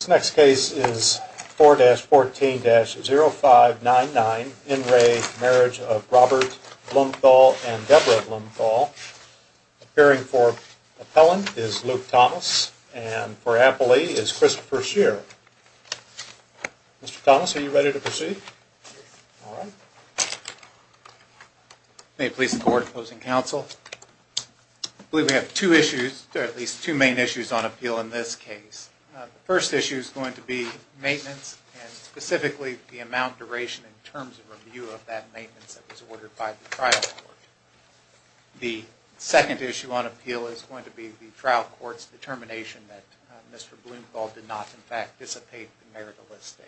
This next case is 4-14-0599, in re Marriage of Robert Blumthal and Deborah Blumthal. Appearing for Appellant is Luke Thomas and for Appellee is Christopher Shearer. Mr. Thomas, are you ready to proceed? May it please the Court, Opposing Counsel. I believe we have two issues, or at least two main issues on appeal in this case. The first issue is going to be maintenance and specifically the amount duration in terms of review of that maintenance that was ordered by the trial court. The second issue on appeal is going to be the trial court's determination that Mr. Blumthal did not in fact dissipate the marital estate.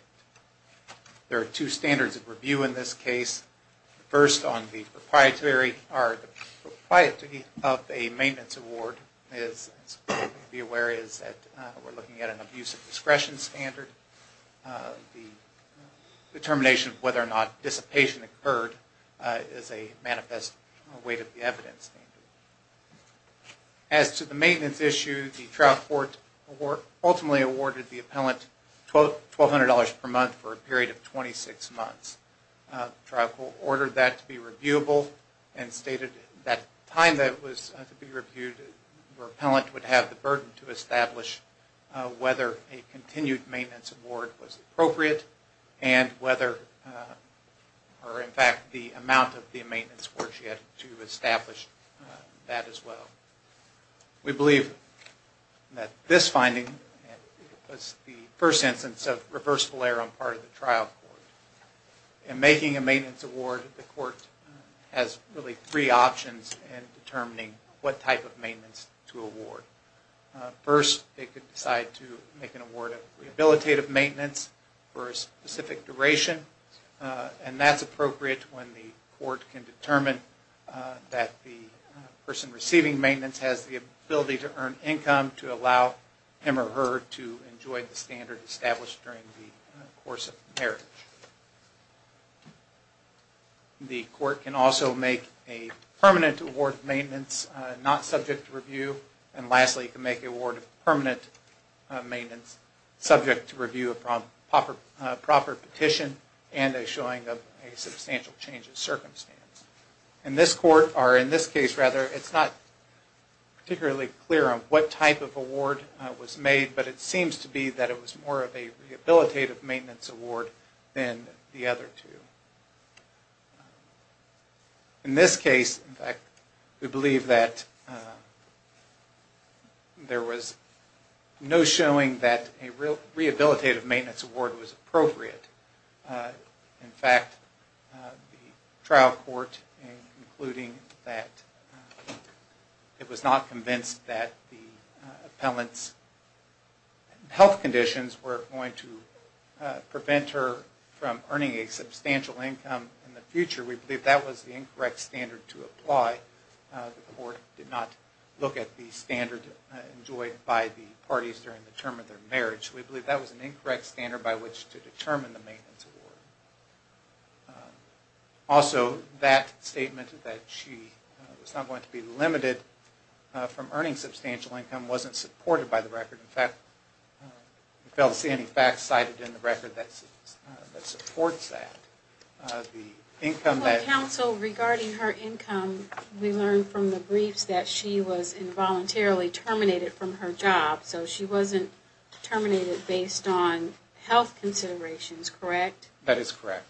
There are two standards of review in this case. The first on the proprietary of a maintenance award is that we are looking at an abuse of discretion standard. The determination of whether or not dissipation occurred is a manifest weight of the evidence. As to the maintenance issue, the trial court ultimately awarded the appellant $1,200 per month for a period of 26 months. The trial court ordered that to be reviewable and stated that at the time that it was to be reviewed, the appellant would have the burden to establish whether a continued maintenance award was appropriate and whether or in fact the amount of the maintenance award she had to establish that as well. We believe that this finding was the first instance of reversible error on part of the trial court. In making a maintenance award, the court has really three options in determining what type of maintenance to award. First, they could decide to make an award of rehabilitative maintenance for a specific duration and that's appropriate when the court can determine that the person receiving maintenance has the ability to earn income to allow him or her to enjoy the standard established during the course of the marriage. The court can also make a permanent award of maintenance not subject to review and lastly, can make an award of permanent maintenance subject to review of proper petition and a showing of a substantial change of circumstance. In this case, it's not particularly clear on what type of award was made, but it seems to be that it was more of a rehabilitative maintenance award than the other two. In this case, in fact, we believe that there was no showing that a rehabilitative maintenance award was appropriate. In fact, the trial court in concluding that it was not convinced that the appellant's health conditions were going to prevent her from earning a substantial income in the future, we believe that was the incorrect standard to apply. The court did not look at the standard enjoyed by the parties during the term of their marriage. We believe that was an incorrect standard by which to determine the maintenance award. Also, that statement that she was not going to be limited from earning substantial income wasn't supported by the record. In fact, we failed to see any facts cited in the record that supports that. The income that... But counsel, regarding her income, we learned from the briefs that she was involuntarily terminated from her job, so she wasn't terminated based on health considerations, correct? That is correct.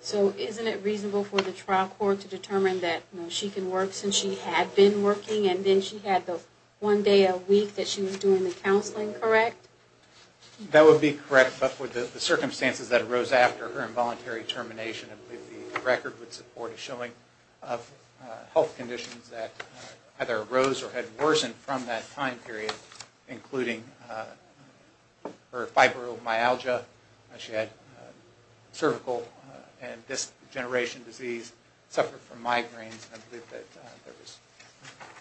So isn't it reasonable for the trial court to determine that she can work since she had been working and then she had the one day a week that she was doing the counseling, correct? That would be correct. But for the circumstances that arose after her involuntary termination, I believe the record would support a showing of health conditions that either arose or had worsened from that time period, including her fibromyalgia. She had cervical and disc degeneration disease, suffered from migraines.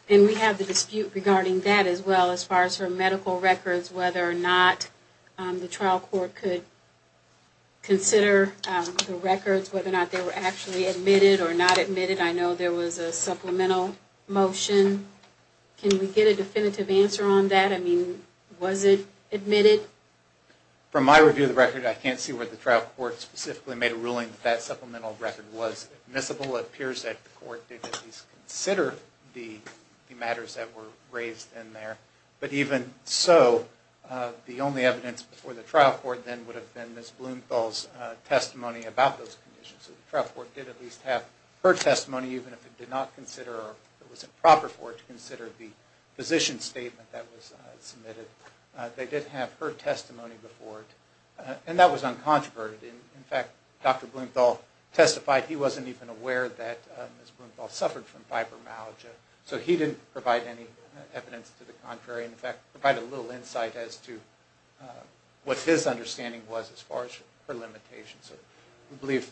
And we have the dispute regarding that as well as far as her medical records, whether or not the trial court could consider the records, whether or not they were actually admitted or not admitted. I know there was a supplemental motion. Can we get a definitive answer on that? I mean, was it admitted? From my review of the record, I can't see where the trial court specifically made a ruling that that supplemental record was admissible. It appears that the court did at least consider the matters that were raised in there. But even so, the only evidence before the trial court then would have been Ms. Blumenthal's testimony about those conditions. So the trial court did at least have her testimony, even if it did not consider or it was improper for it to consider the physician's statement that was submitted. They did have her testimony before it. And that was uncontroverted. In fact, Dr. Blumenthal testified he wasn't even aware that Ms. Blumenthal suffered from fibromyalgia. So he didn't provide any evidence to the contrary. In fact, provide a little insight as to what his understanding was as far as her limitations. So we believe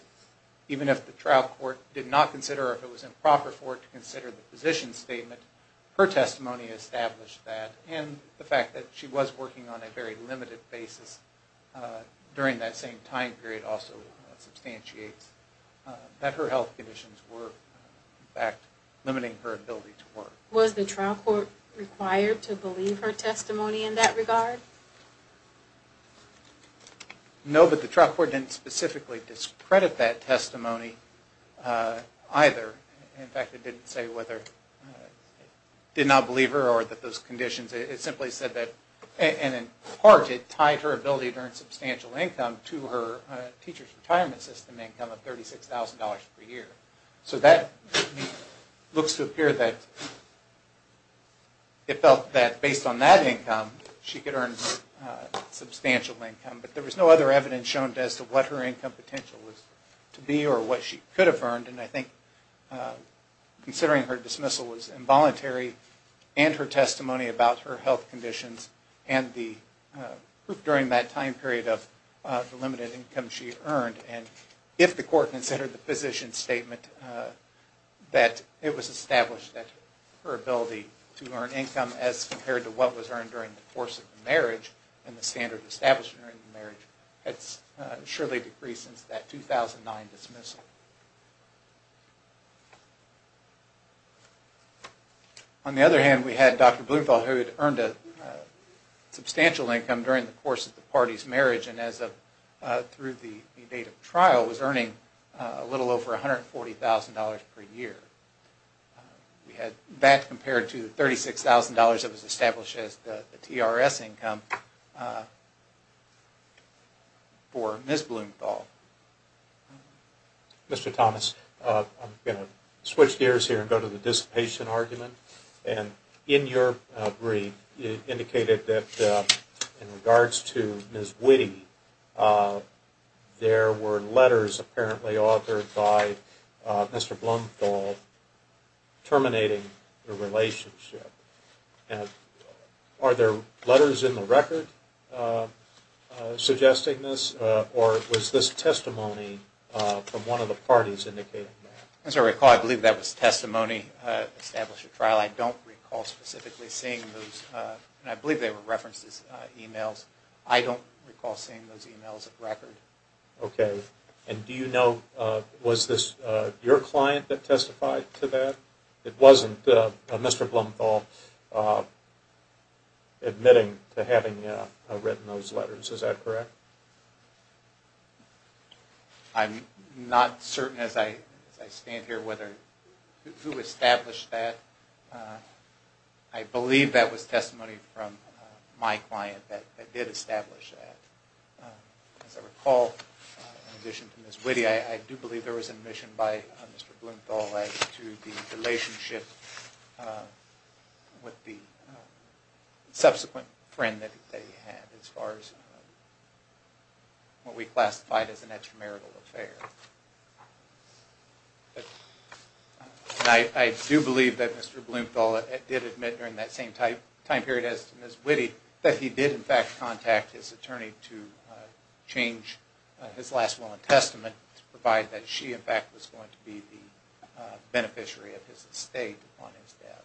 even if the trial court did not consider or if it was improper for it to consider the physician's statement, her testimony established that. And the fact that she was working on a very limited basis during that same time period also substantiates that her health conditions were, in fact, limiting her ability to work. Was the trial court required to believe her testimony in that regard? No, but the trial court didn't specifically discredit that testimony either. In fact, it didn't say whether it did not believe her or that those conditions. It simply said that, and in part, it tied her ability to earn substantial income to her teacher's retirement system income of $36,000 per year. So that looks to appear that it felt that based on that income, she could earn substantial income. But there was no other evidence shown as to what her income potential was to be or what she could have earned. And I think considering her dismissal was involuntary, and her testimony about her health conditions, and during that time period of the limited income she earned, and if the court considered the physician's statement that it was established that her ability to earn income as compared to what was earned during the course of the marriage and the standard established during the marriage had surely decreased since that 2009 dismissal. On the other hand, we had Dr. Blumenthal who had earned a substantial income during the course of the party's marriage and through the date of trial was earning a little over $140,000 per year. That compared to the $36,000 that was established as the TRS income for Ms. Blumenthal. Mr. Thomas, I'm going to switch gears here and go to the dissipation argument. In your brief, you indicated that in regards to Ms. Witte, there were letters apparently authored by Mr. Blumenthal terminating the relationship. Are there letters in the record suggesting this, or was this testimony from one of the parties indicating that? As I recall, I believe that was testimony established at trial. I don't recall specifically seeing those, and I believe they were referenced as emails. I don't recall seeing those emails at record. Okay, and do you know, was this your client that testified to that? It wasn't Mr. Blumenthal admitting to having written those letters, is that correct? I'm not certain as I stand here who established that. I believe that was testimony from my client that did establish that. As I recall, in addition to Ms. Witte, I do believe there was admission by Mr. Blumenthal to the relationship with the subsequent friend that they had as far as what we classified as an extramarital affair. I do believe that Mr. Blumenthal did admit during that same time period as Ms. Witte that he did in fact contact his attorney to change his last will and testament to provide that she in fact was going to be the beneficiary of his estate upon his death.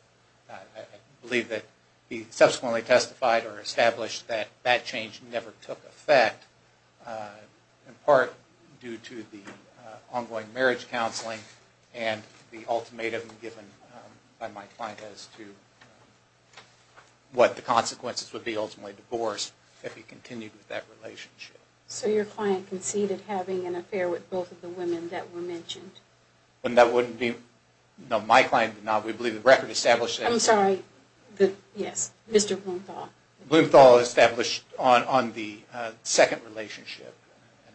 I believe that he subsequently testified or established that that change never took effect, in part due to the ongoing marriage counseling and the ultimatum given by my client as to what the consequences would be ultimately divorced if he continued with that relationship. So your client conceded having an affair with both of the women that were mentioned? No, my client did not. We believe the record established that. I'm sorry, yes, Mr. Blumenthal. Blumenthal established on the second relationship.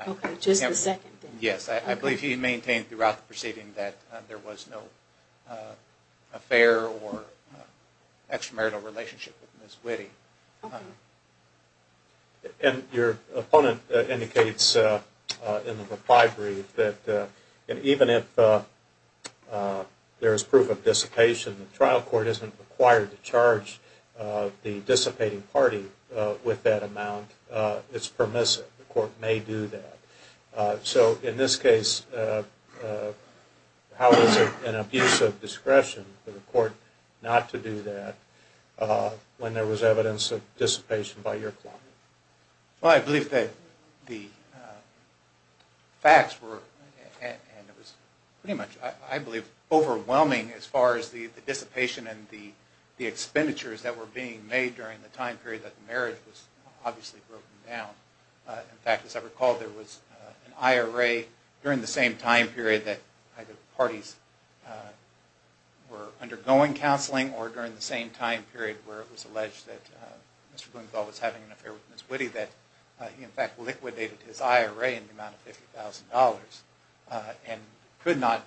Okay, just the second. Yes, I believe he maintained throughout the proceeding that there was no affair or extramarital relationship with Ms. Witte. Okay. And your opponent indicates in the reply brief that even if there is proof of dissipation, the trial court isn't required to charge the dissipating party with that amount. It's permissive. The court may do that. So in this case, how is it an abuse of discretion for the court not to do that when there was evidence of dissipation by your client? Well, I believe that the facts were, and it was pretty much, I believe, overwhelming as far as the dissipation and the expenditures that were being made during the time period that the marriage was obviously broken down. In fact, as I recall, there was an IRA during the same time period that either parties were undergoing counseling or during the same time period where it was alleged that Mr. Blumenthal was having an affair with Ms. Witte, that he in fact liquidated his IRA in the amount of $50,000 and could not,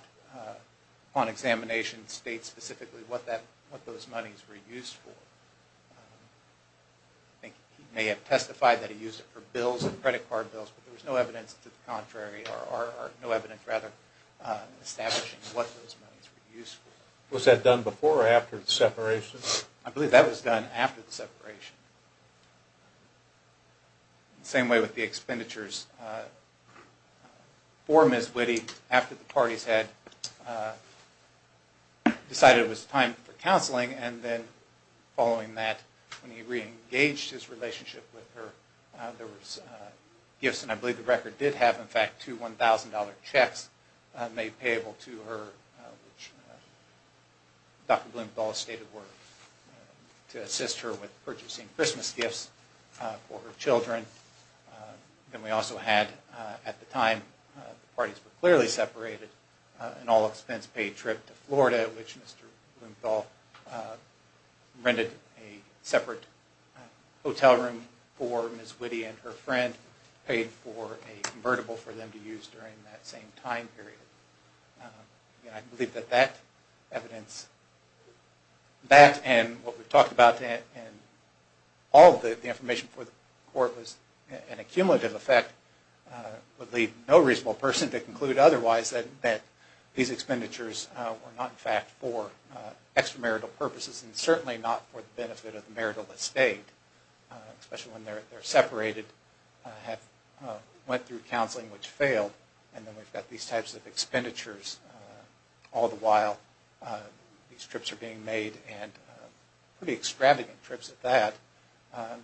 upon examination, state specifically what those monies were used for. I think he may have testified that he used it for bills and credit card bills, but there was no evidence to the contrary or no evidence rather establishing what those monies were used for. Was that done before or after the separation? I believe that was done after the separation. Same way with the expenditures for Ms. Witte after the parties had decided it was time for counseling and then following that, when he reengaged his relationship with her, there was gifts, and I believe the record did have in fact two $1,000 checks made payable to her, which Dr. Blumenthal stated were to assist her with purchasing Christmas gifts for her children. Then we also had, at the time the parties were clearly separated, an all-expense paid trip to Florida, which Mr. Blumenthal rented a separate hotel room for Ms. Witte and her friend, paid for a convertible for them to use during that same time period. I believe that that evidence, that and what we've talked about, and all of the information before the court was an accumulative effect, would leave no reasonable person to conclude otherwise, that these expenditures were not in fact for extramarital purposes and certainly not for the benefit of the marital estate, especially when they're separated, have went through counseling which failed, and then we've got these types of expenditures all the while these trips are being made and pretty extravagant trips at that.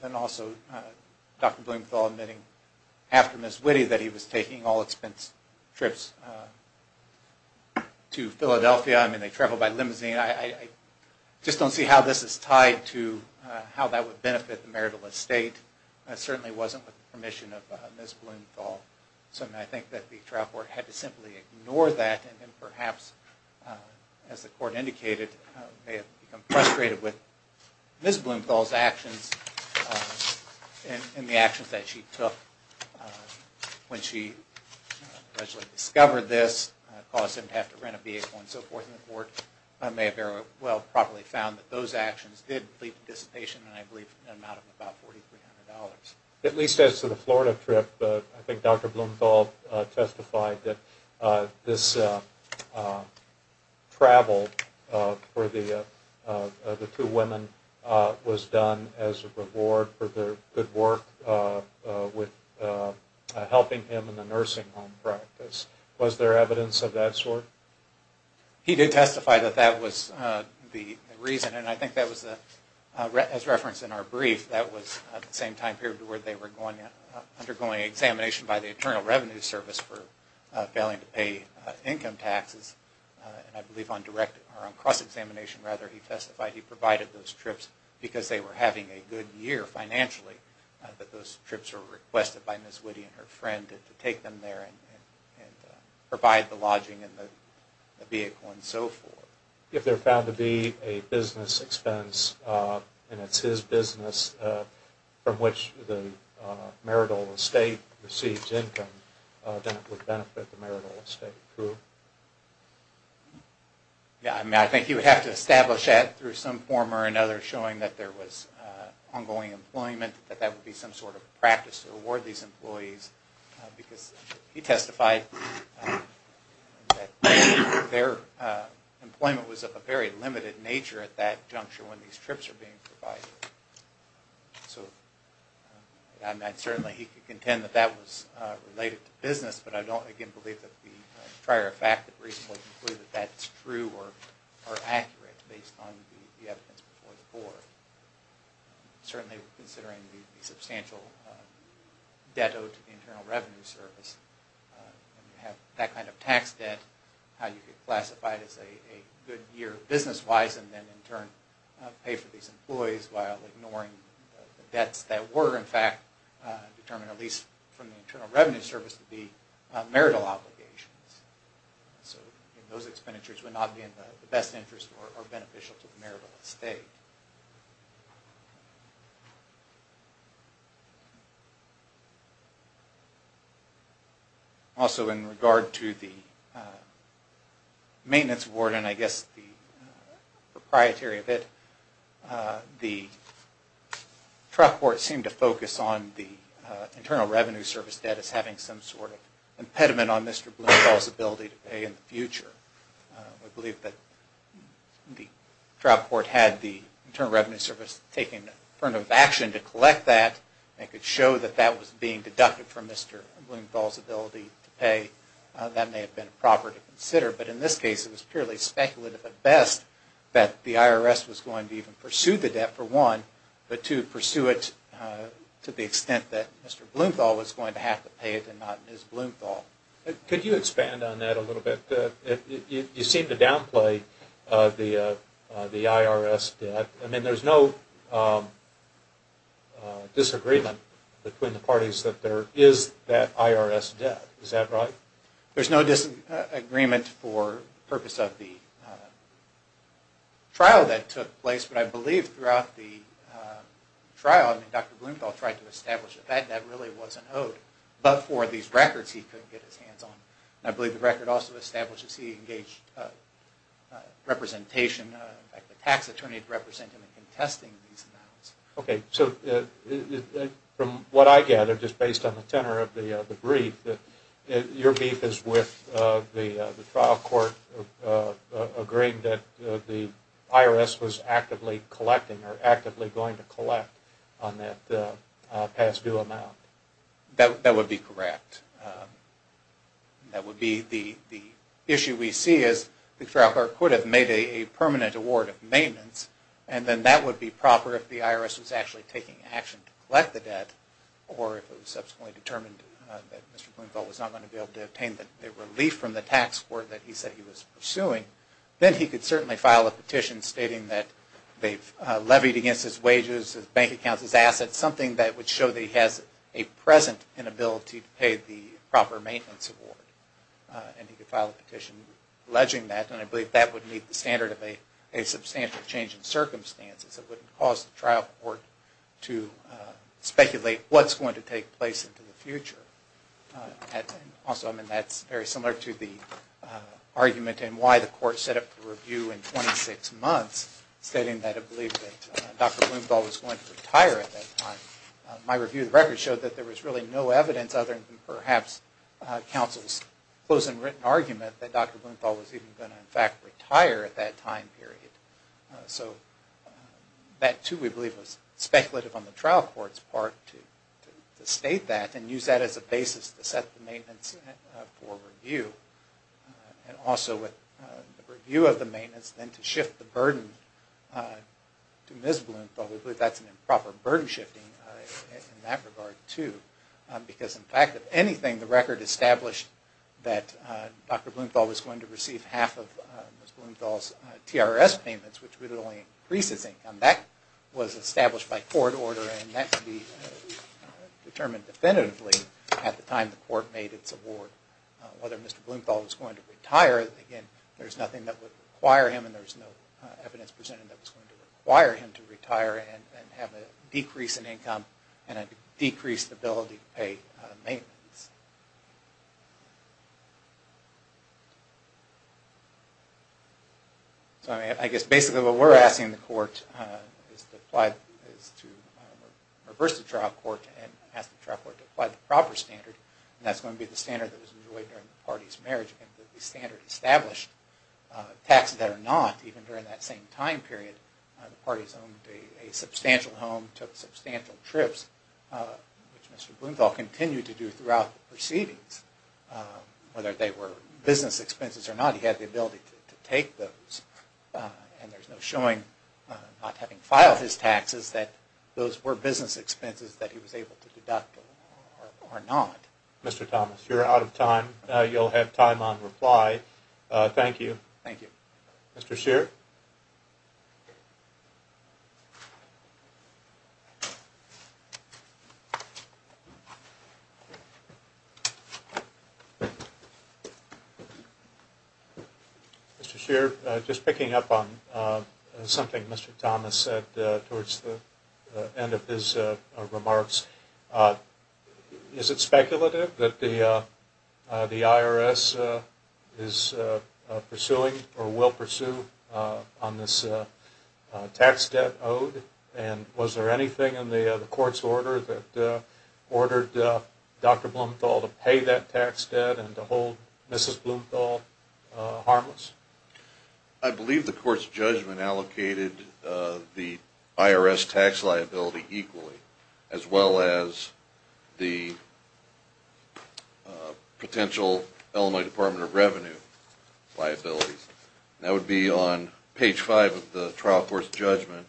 Then also Dr. Blumenthal admitting after Ms. Witte that he was taking all-expense trips to Philadelphia. I mean, they travel by limousine. I just don't see how this is tied to how that would benefit the marital estate. It certainly wasn't with the permission of Ms. Blumenthal. So I think that the trial court had to simply ignore that and perhaps, as the court indicated, may have become frustrated with Ms. Blumenthal's actions and the actions that she took when she allegedly discovered this, caused him to have to rent a vehicle and so forth, and the court may have very well properly found that those actions did lead to dissipation in an amount of about $4,300. At least as to the Florida trip, I think Dr. Blumenthal testified that this travel for the two women was done as a reward for their good work with helping him in the nursing home practice. Was there evidence of that sort? He did testify that that was the reason, and I think that was as referenced in our brief, that was at the same time period where they were undergoing examination by the Internal Revenue Service for failing to pay income taxes, and I believe on cross-examination, rather, he testified he provided those trips because they were having a good year financially, that those trips were requested by Ms. Witte and her friend to take them there and provide the lodging and the vehicle and so forth. If they're found to be a business expense, and it's his business from which the marital estate receives income, then it would benefit the marital estate, too. I think you would have to establish that through some form or another showing that there was ongoing employment, that that would be some sort of practice to award these employees, because he testified that their employment was of a very limited nature at that juncture when these trips were being provided. So certainly he could contend that that was related to business, but I don't, again, believe that the prior fact that recently concluded that that's true or accurate based on the evidence before the board. Certainly considering the substantial debt owed to the Internal Revenue Service, and you have that kind of tax debt, how you could classify it as a good year business-wise and then in turn pay for these employees while ignoring the debts that were, in fact, determined, at least from the Internal Revenue Service, to be marital obligations. So those expenditures would not be in the best interest or beneficial to the marital estate. Also in regard to the maintenance award and I guess the proprietary of it, the trial court seemed to focus on the Internal Revenue Service debt as having some sort of impediment on Mr. Blumenthal's ability to pay in the future. I believe that the trial court had the Internal Revenue Service taking affirmative action to collect that and could show that that was being deducted from Mr. Blumenthal's ability to pay. That may have been proper to consider, but in this case it was purely speculative at best that the IRS was going to even pursue the debt for one, but to pursue it to the extent that Mr. Blumenthal was going to have to pay it and not Ms. Blumenthal. Could you expand on that a little bit? You seem to downplay the IRS debt. I mean, there's no disagreement between the parties that there is that IRS debt. Is that right? There's no disagreement for the purpose of the trial that took place, but I believe throughout the trial, I mean, Dr. Blumenthal tried to establish that that debt really wasn't owed, but for these records he couldn't get his hands on it. I believe the record also establishes he engaged representation, in fact the tax attorney representing him in contesting these amounts. Okay, so from what I gather, just based on the tenor of the brief, your beef is with the trial court agreeing that the IRS was actively collecting or actively going to collect on that past due amount. That would be correct. That would be the issue we see is the trial court could have made a permanent award of maintenance and then that would be proper if the IRS was actually taking action to collect the debt or if it was subsequently determined that Mr. Blumenthal was not going to be able to obtain the relief from the tax court that he said he was pursuing, then he could certainly file a petition stating that they've levied against his wages, his bank accounts, his assets, something that would show that he has a present inability to pay the proper maintenance award and he could file a petition alleging that and I believe that would meet the standard of a substantial change in circumstances that wouldn't cause the trial court to speculate what's going to take place into the future. Also, I mean, that's very similar to the argument in why the court set up the review in 26 months stating that it believed that Dr. Blumenthal was going to retire at that time. My review of the record showed that there was really no evidence other than perhaps counsel's close and written argument that Dr. Blumenthal was even going to in fact retire at that time period. So that too we believe was speculative on the trial court's part to state that and use that as a basis to set the maintenance for review and also with the review of the maintenance then to shift the burden to Ms. Blumenthal. We believe that's an improper burden shifting in that regard too because in fact if anything, the record established that Dr. Blumenthal was going to receive half of Ms. Blumenthal's TRS payments which would only increase his income. That was established by court order and that could be determined definitively at the time the court made its award. Whether Mr. Blumenthal was going to retire, again, there's nothing that would require him and there's no evidence presented that was going to require him to retire and have a decrease in income and a decreased ability to pay maintenance. So I guess basically what we're asking the court is to reverse the trial court and ask the trial court to apply the proper standard and that's going to be the standard that was enjoyed during the party's marriage and the standard established. Taxes that are not, even during that same time period, the party's owned a substantial home, took substantial trips, which Mr. Blumenthal continued to do throughout the proceedings. Whether they were business expenses or not, he had the ability to take those and there's no showing not having filed his taxes that those were business expenses that he was able to deduct or not. Mr. Thomas, you're out of time. You'll have time on reply. Thank you. Thank you. Mr. Scheer? Mr. Scheer, just picking up on something Mr. Thomas said towards the end of his remarks, is it speculative that the IRS is pursuing or will pursue a retirement plan for Mr. Blumenthal? On this tax debt owed and was there anything in the court's order that ordered Dr. Blumenthal to pay that tax debt and to hold Mrs. Blumenthal harmless? I believe the court's judgment allocated the IRS tax liability equally as well as the potential Illinois Department of Revenue liability. That would be on page 5 of the trial court's judgment,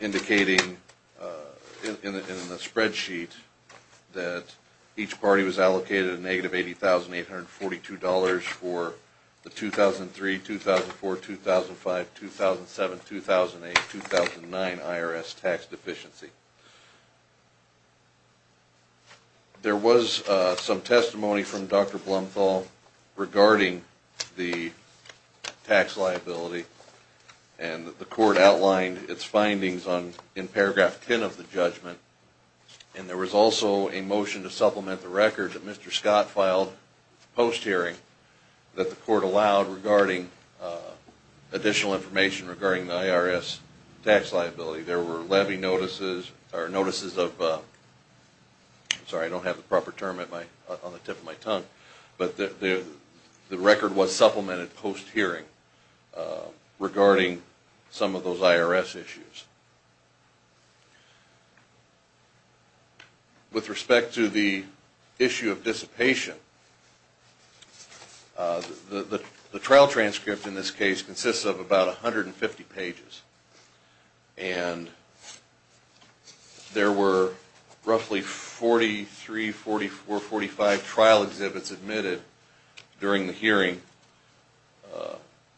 indicating in the spreadsheet that each party was allocated a negative $80,842 for the 2003, 2004, 2005, 2007, 2008, 2009 IRS tax deficiency. There was some testimony from Dr. Blumenthal regarding the tax liability and the court outlined its findings in paragraph 10 of the judgment. And there was also a motion to supplement the record that Mr. Scott filed post-hearing that the court allowed regarding additional information regarding the IRS tax liability. There were levy notices or notices of, sorry I don't have the proper term on the tip of my tongue, but the record was supplemented post-hearing regarding some of those IRS issues. With respect to the issue of dissipation, the trial transcript in this case consists of about 150 pages and there were roughly 43, 44, 45 trial exhibits admitted during the hearing,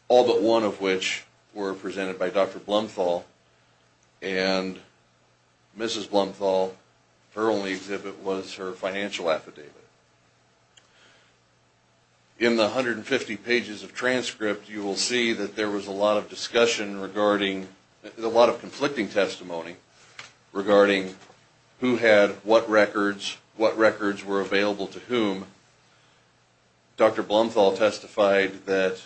all but one of which were presented by Dr. Blumenthal and Mrs. Blumenthal, her only exhibit was her financial affidavit. In the 150 pages of transcript you will see that there was a lot of discussion regarding, a lot of conflicting testimony regarding who had what records, what records were available to whom. Dr. Blumenthal testified that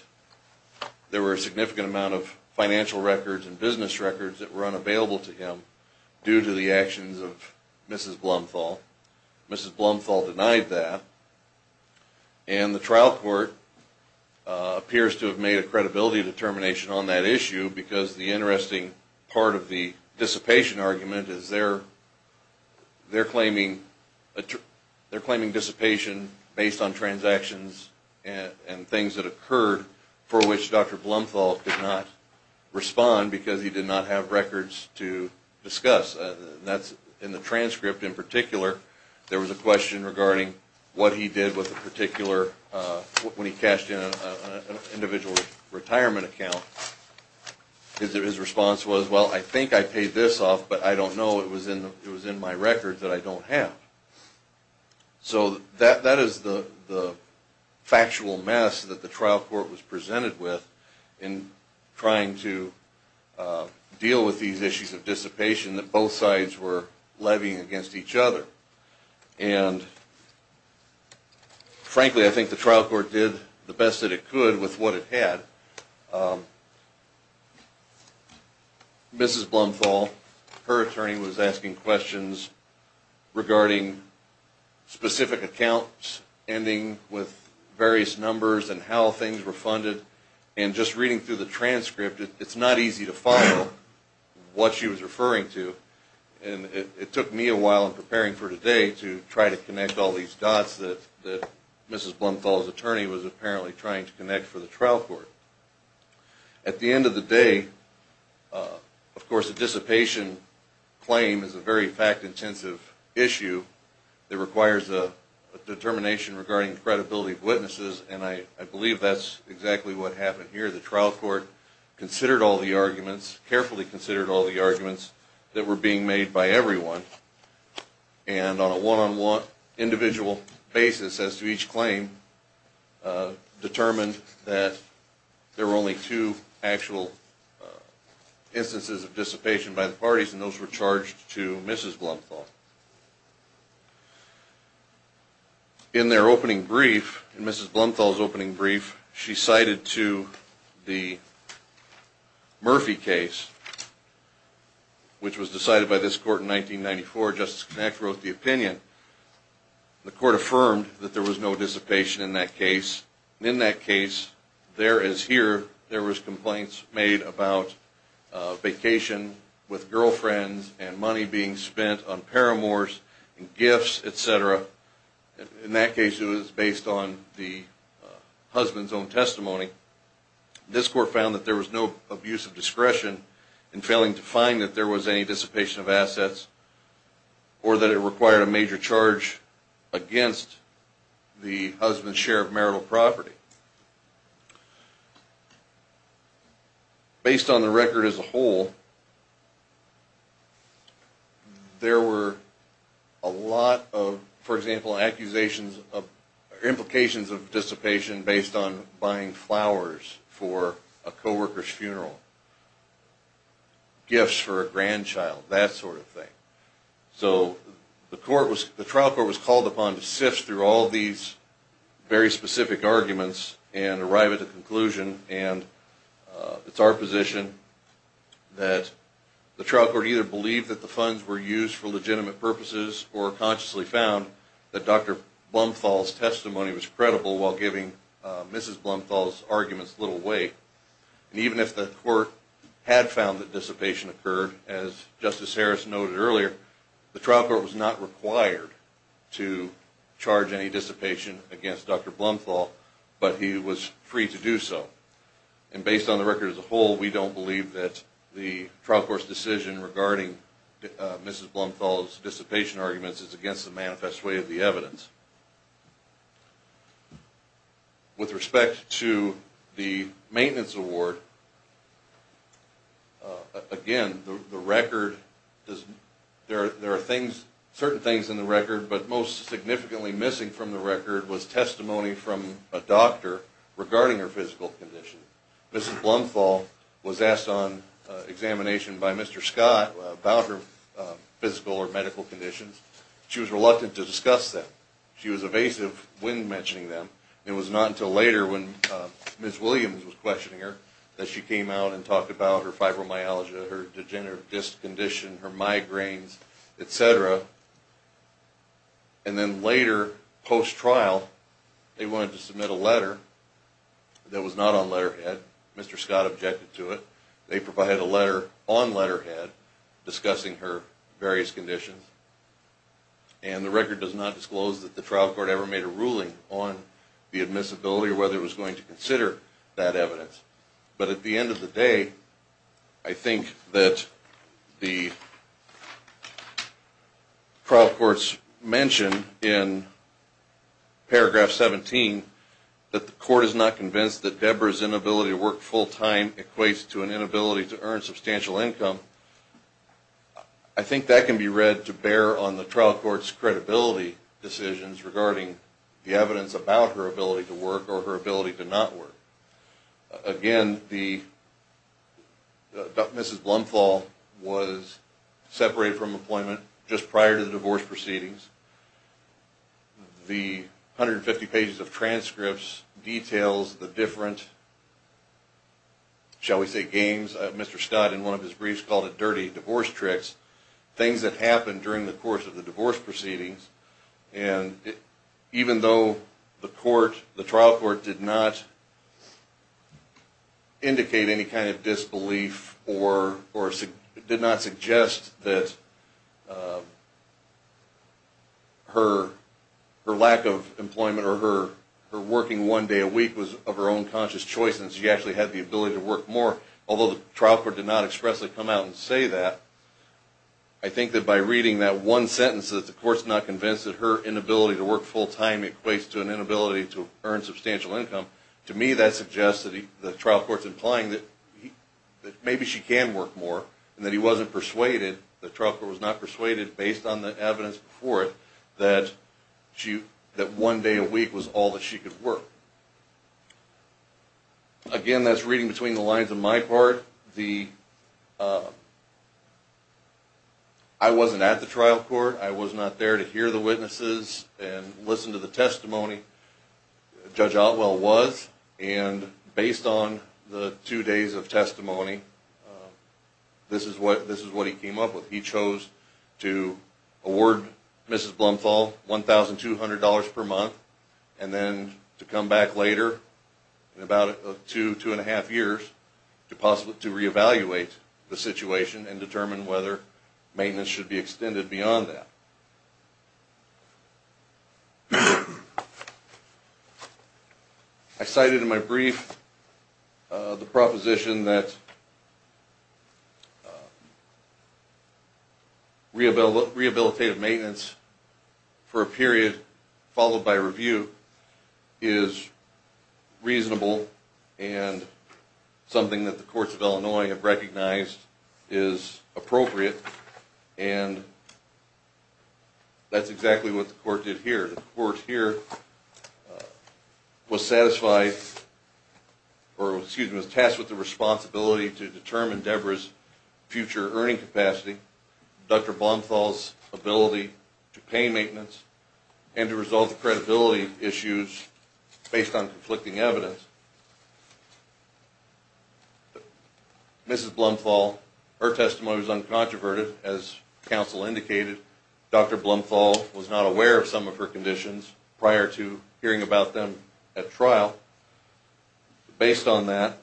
there were a significant amount of financial records and business records that were unavailable to him due to the actions of Mrs. Blumenthal. Mrs. Blumenthal denied that and the trial court appears to have made a credibility determination on that issue because the interesting part of the dissipation argument is they're claiming dissipation based on transactions and things that occurred for which Dr. Blumenthal did not respond because he did not have records to discuss. In the transcript in particular there was a question regarding what he did with a particular, when he cashed in an individual retirement account, his response was, well I think I paid this off but I don't know, it was in my record that I don't have. So that is the factual mess that the trial court was presented with in trying to deal with these issues of dissipation that both sides were levying against each other. And frankly I think the trial court did the best that it could with what it had. Mrs. Blumenthal, her attorney was asking questions regarding specific accounts ending with various numbers and how things were funded and just reading through the transcript it's not easy to follow what she was referring to and it took me a while in preparing for today to try to connect all these dots that Mrs. Blumenthal's attorney was apparently trying to connect for the trial court. At the end of the day, of course a dissipation claim is a very fact intensive issue that requires a determination regarding credibility of witnesses and I believe that's exactly what happened here. The trial court considered all the arguments, carefully considered all the arguments that were being made by everyone and on a one-on-one individual basis as to each claim determined that there were only two actual instances of dissipation by the parties and those were charged to Mrs. Blumenthal. In their opening brief, in Mrs. Blumenthal's opening brief, she cited to the Murphy case which was decided by this court in 1994, Justice Knack wrote the opinion. The court affirmed that there was no dissipation in that case and in that case, there as here, there was complaints made about vacation with girlfriends and money being spent on paramours and gifts, etc. In that case, it was based on the husband's own testimony. This court found that there was no abuse of discretion in failing to find that there was any dissipation of assets or that it required a major charge against the husband's share of marital property. Based on the record as a whole, there were a lot of, for example, implications of dissipation based on buying flowers for a co-worker's funeral, gifts for a grandchild, that sort of thing. So the trial court was called upon to sift through all these very specific arguments and arrive at a conclusion and it's our position that the trial court either believed that the funds were used for legitimate purposes or consciously found that Dr. Blumenthal's testimony was credible while giving Mrs. Blumenthal's arguments little weight. Even if the court had found that dissipation occurred, as Justice Harris noted earlier, the trial court was not required to charge any dissipation against Dr. Blumenthal, but he was free to do so. And based on the record as a whole, we don't believe that the trial court's decision regarding Mrs. Blumenthal's dissipation arguments is against the manifest way of the evidence. With respect to the maintenance award, again, the record, there are certain things in the record, but most significantly missing from the record was testimony from a doctor regarding her physical condition. Mrs. Blumenthal was asked on examination by Mr. Scott about her physical or medical conditions. She was reluctant to discuss that. She was evasive when mentioning them. It was not until later when Ms. Williams was questioning her that she came out and talked about her fibromyalgia, her degenerative disc condition, her migraines, etc. And then later, post-trial, they wanted to submit a letter that was not on letterhead. Mr. Scott objected to it. They provided a letter on letterhead discussing her various conditions. And the record does not disclose that the trial court ever made a ruling on the admissibility or whether it was going to consider that evidence. But at the end of the day, I think that the trial court's mention in paragraph 17 that the court is not convinced that Deborah's inability to work full-time equates to an inability to earn substantial income, I think that can be read to bear on the trial court's credibility decisions regarding the evidence about her ability to work or her ability to not work. Again, Mrs. Blumenthal was separated from employment just prior to the divorce proceedings. The 150 pages of transcripts details the different, shall we say, games Mr. Scott in one of his briefs called it dirty divorce tricks, things that happened during the course of the divorce proceedings. And even though the trial court did not indicate any kind of disbelief or did not suggest that her lack of employment or her working one day a week was of her own conscious choice and she actually had the ability to work more, although the trial court did not expressly come out and say that, I think that by reading that one sentence that the court's not convinced that her inability to work full-time equates to an inability to earn substantial income, to me that suggests that the trial court's implying that maybe she can work more and that he wasn't persuaded, the trial court was not persuaded, based on the evidence before it, that one day a week was all that she could work. Again, that's reading between the lines on my part, I wasn't at the trial court, I was not there to hear the witnesses and listen to the testimony, Judge Otwell was, and based on the two days of testimony, this is what he came up with. He chose to award Mrs. Blumenthal $1,200 per month and then to come back later in about two, two and a half years to re-evaluate the situation and determine whether maintenance should be extended beyond that. I cited in my brief the proposition that rehabilitative maintenance for a period followed by review is reasonable and something that the courts of Illinois have recognized is appropriate and that's exactly what the court did here. The court here was satisfied, or excuse me, was tasked with the responsibility to determine Deborah's future earning capacity. Dr. Blumenthal's ability to pay maintenance and to resolve the credibility issues based on conflicting evidence. Mrs. Blumenthal, her testimony was uncontroverted, as counsel indicated. Dr. Blumenthal was not aware of some of her conditions prior to hearing about them at trial. Based on that,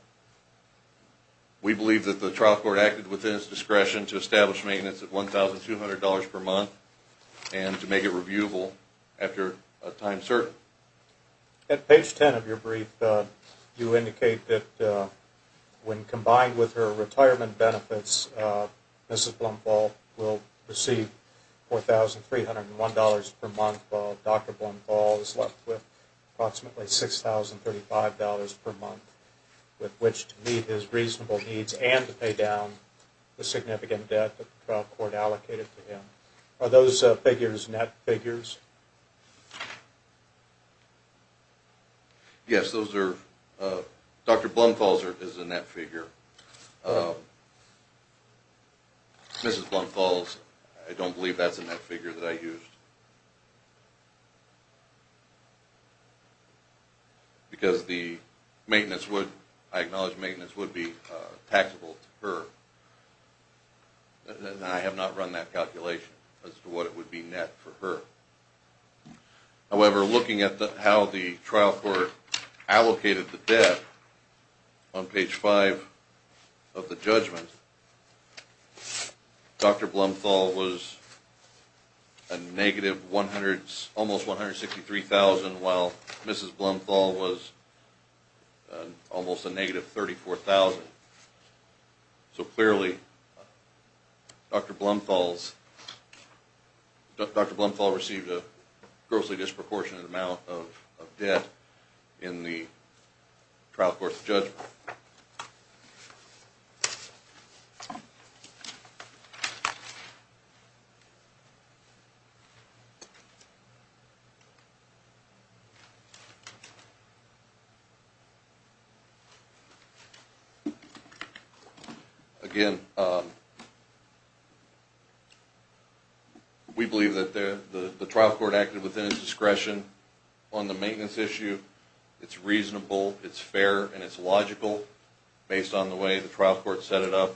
we believe that the trial court acted within its discretion to establish maintenance at $1,200 per month and to make it reviewable after a time certain. At page 10 of your brief, you indicate that when combined with her retirement benefits, Mrs. Blumenthal will receive $4,301 per month while Dr. Blumenthal is left with approximately $6,035 per month with which to meet his reasonable needs and to pay down the significant debt that the trial court allocated to him. Are those figures net figures? Yes, those are. Dr. Blumenthal is a net figure. Mrs. Blumenthal, I don't believe that's a net figure that I used because I acknowledge maintenance would be taxable to her. I have not run that calculation as to what it would be net for her. However, looking at how the trial court allocated the debt, on page 5 of the judgment, Dr. Blumenthal was almost $163,000 while Mrs. Blumenthal was almost a negative $34,000. So clearly, Dr. Blumenthal received a grossly disproportionate amount of debt in the trial court's judgment. Thank you. Again, we believe that the trial court acted within its discretion on the maintenance issue. It's reasonable, it's fair, and it's logical based on the way the trial court set it up.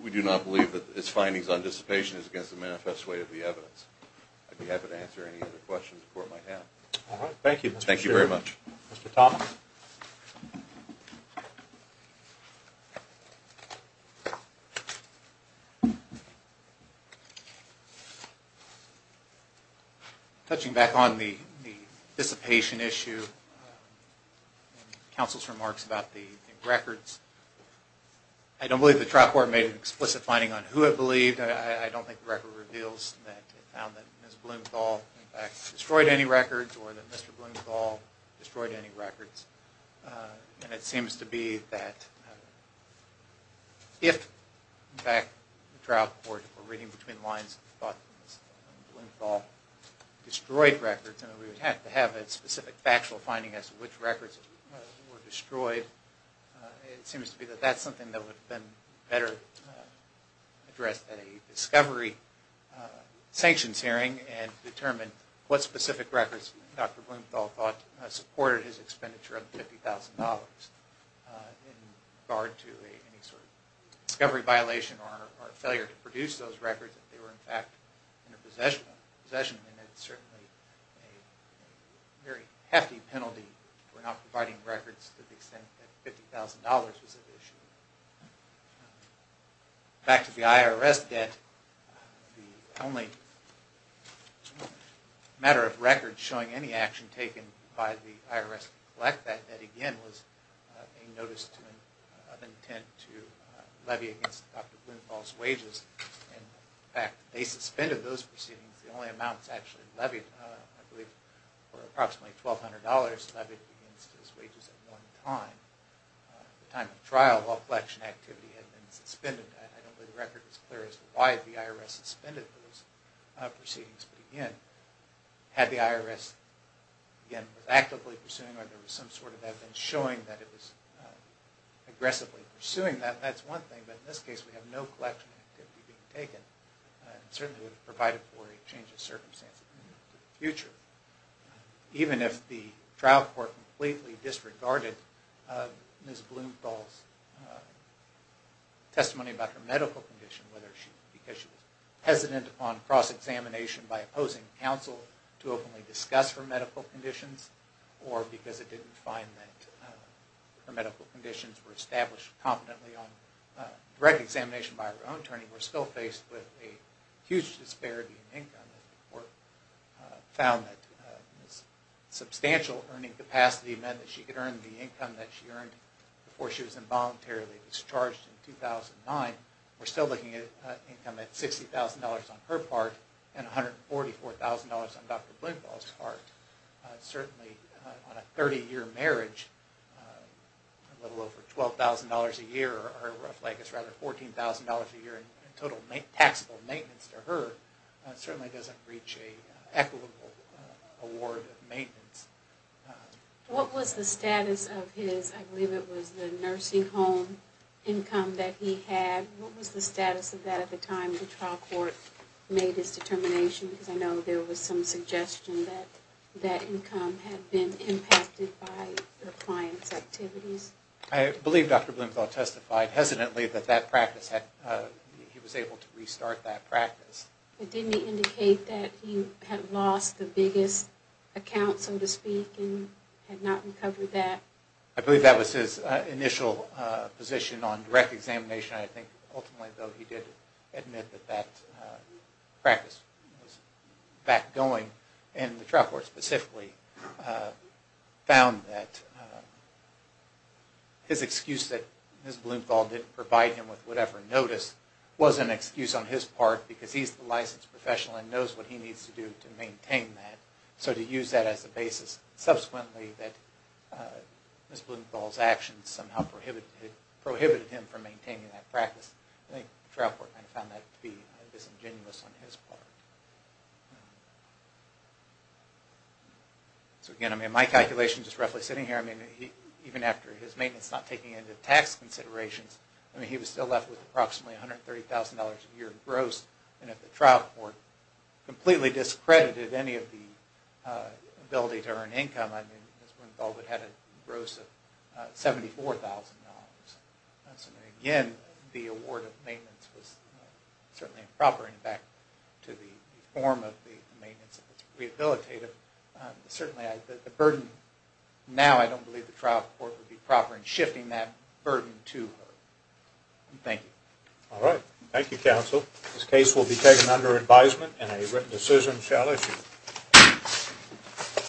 We do not believe that his findings on dissipation is against the manifest way of the evidence. I'd be happy to answer any other questions the court might have. Mr. Thomas? Thank you. Touching back on the dissipation issue, counsel's remarks about the records, I don't believe the trial court made an explicit finding on who it believed. I don't think the record reveals that it found that Ms. Blumenthal destroyed any records or that Mr. Blumenthal destroyed any records. And it seems to be that if, in fact, the trial court were reading between the lines and thought that Ms. Blumenthal destroyed records and that we would have to have a specific factual finding as to which records were destroyed, it seems to be that that's something that would have been better addressed at a discovery sanctions hearing and determine what specific records Dr. Blumenthal thought supported his expenditure of $50,000 in regard to any sort of discovery violation or failure to produce those records if they were, in fact, in her possession. And it's certainly a very hefty penalty for not providing records to the extent that $50,000 was at issue. Back to the IRS debt. The only matter of record showing any action taken by the IRS to collect that debt again was a notice of intent to levy against Dr. Blumenthal's wages. In fact, they suspended those proceedings. The only amounts actually levied, I believe, were approximately $1,200 levied against his wages at one time. At the time of trial, all collection activity had been suspended. I don't believe the record is clear as to why the IRS suspended those proceedings. But again, had the IRS, again, been actively pursuing or there was some sort of evidence showing that it was aggressively pursuing that, that's one thing. But in this case, we have no collection activity being taken. It certainly would have provided for a change of circumstances in the future. Even if the trial court completely disregarded Ms. Blumenthal's testimony about her medical condition, whether because she was hesitant on cross-examination by opposing counsel to openly discuss her medical conditions or because it didn't find that her medical conditions were established competently on direct examination by her own attorney, we're still faced with a huge disparity in income. The court found that Ms. Blumenthal's substantial earning capacity meant that she could earn the income that she earned before she was involuntarily discharged in 2009. We're still looking at income at $60,000 on her part and $144,000 on Dr. Blumenthal's part. Certainly on a 30-year marriage, a little over $12,000 a year, or her rough leg is rather $14,000 a year in total taxable maintenance to her, certainly doesn't reach an equitable award of maintenance. What was the status of his, I believe it was the nursing home income that he had? What was the status of that at the time the trial court made its determination? Because I know there was some suggestion that that income had been impacted by the client's activities. I believe Dr. Blumenthal testified hesitantly that he was able to restart that practice. Didn't he indicate that he had lost the biggest account, so to speak, and had not recovered that? I believe that was his initial position on direct examination. I think ultimately, though, he did admit that that practice was back going, and the trial court specifically found that his excuse that Ms. Blumenthal didn't provide him with whatever notice was an excuse on his part because he's the licensed professional and knows what he needs to do to maintain that, so to use that as a basis. Subsequently, Ms. Blumenthal's actions somehow prohibited him from maintaining that practice. I think the trial court found that to be disingenuous on his part. Again, my calculation, just roughly sitting here, even after his maintenance not taking into tax considerations, he was still left with approximately $130,000 a year gross, and if the trial court completely discredited any of the ability to earn income, I mean, Ms. Blumenthal would have had a gross of $74,000. Again, the award of maintenance was certainly improper, in fact, to the form of the maintenance that was rehabilitative. Certainly, the burden now, I don't believe the trial court would be proper in shifting that burden to her. Thank you. All right. Thank you, counsel. This case will be taken under advisement and a written decision shall issue.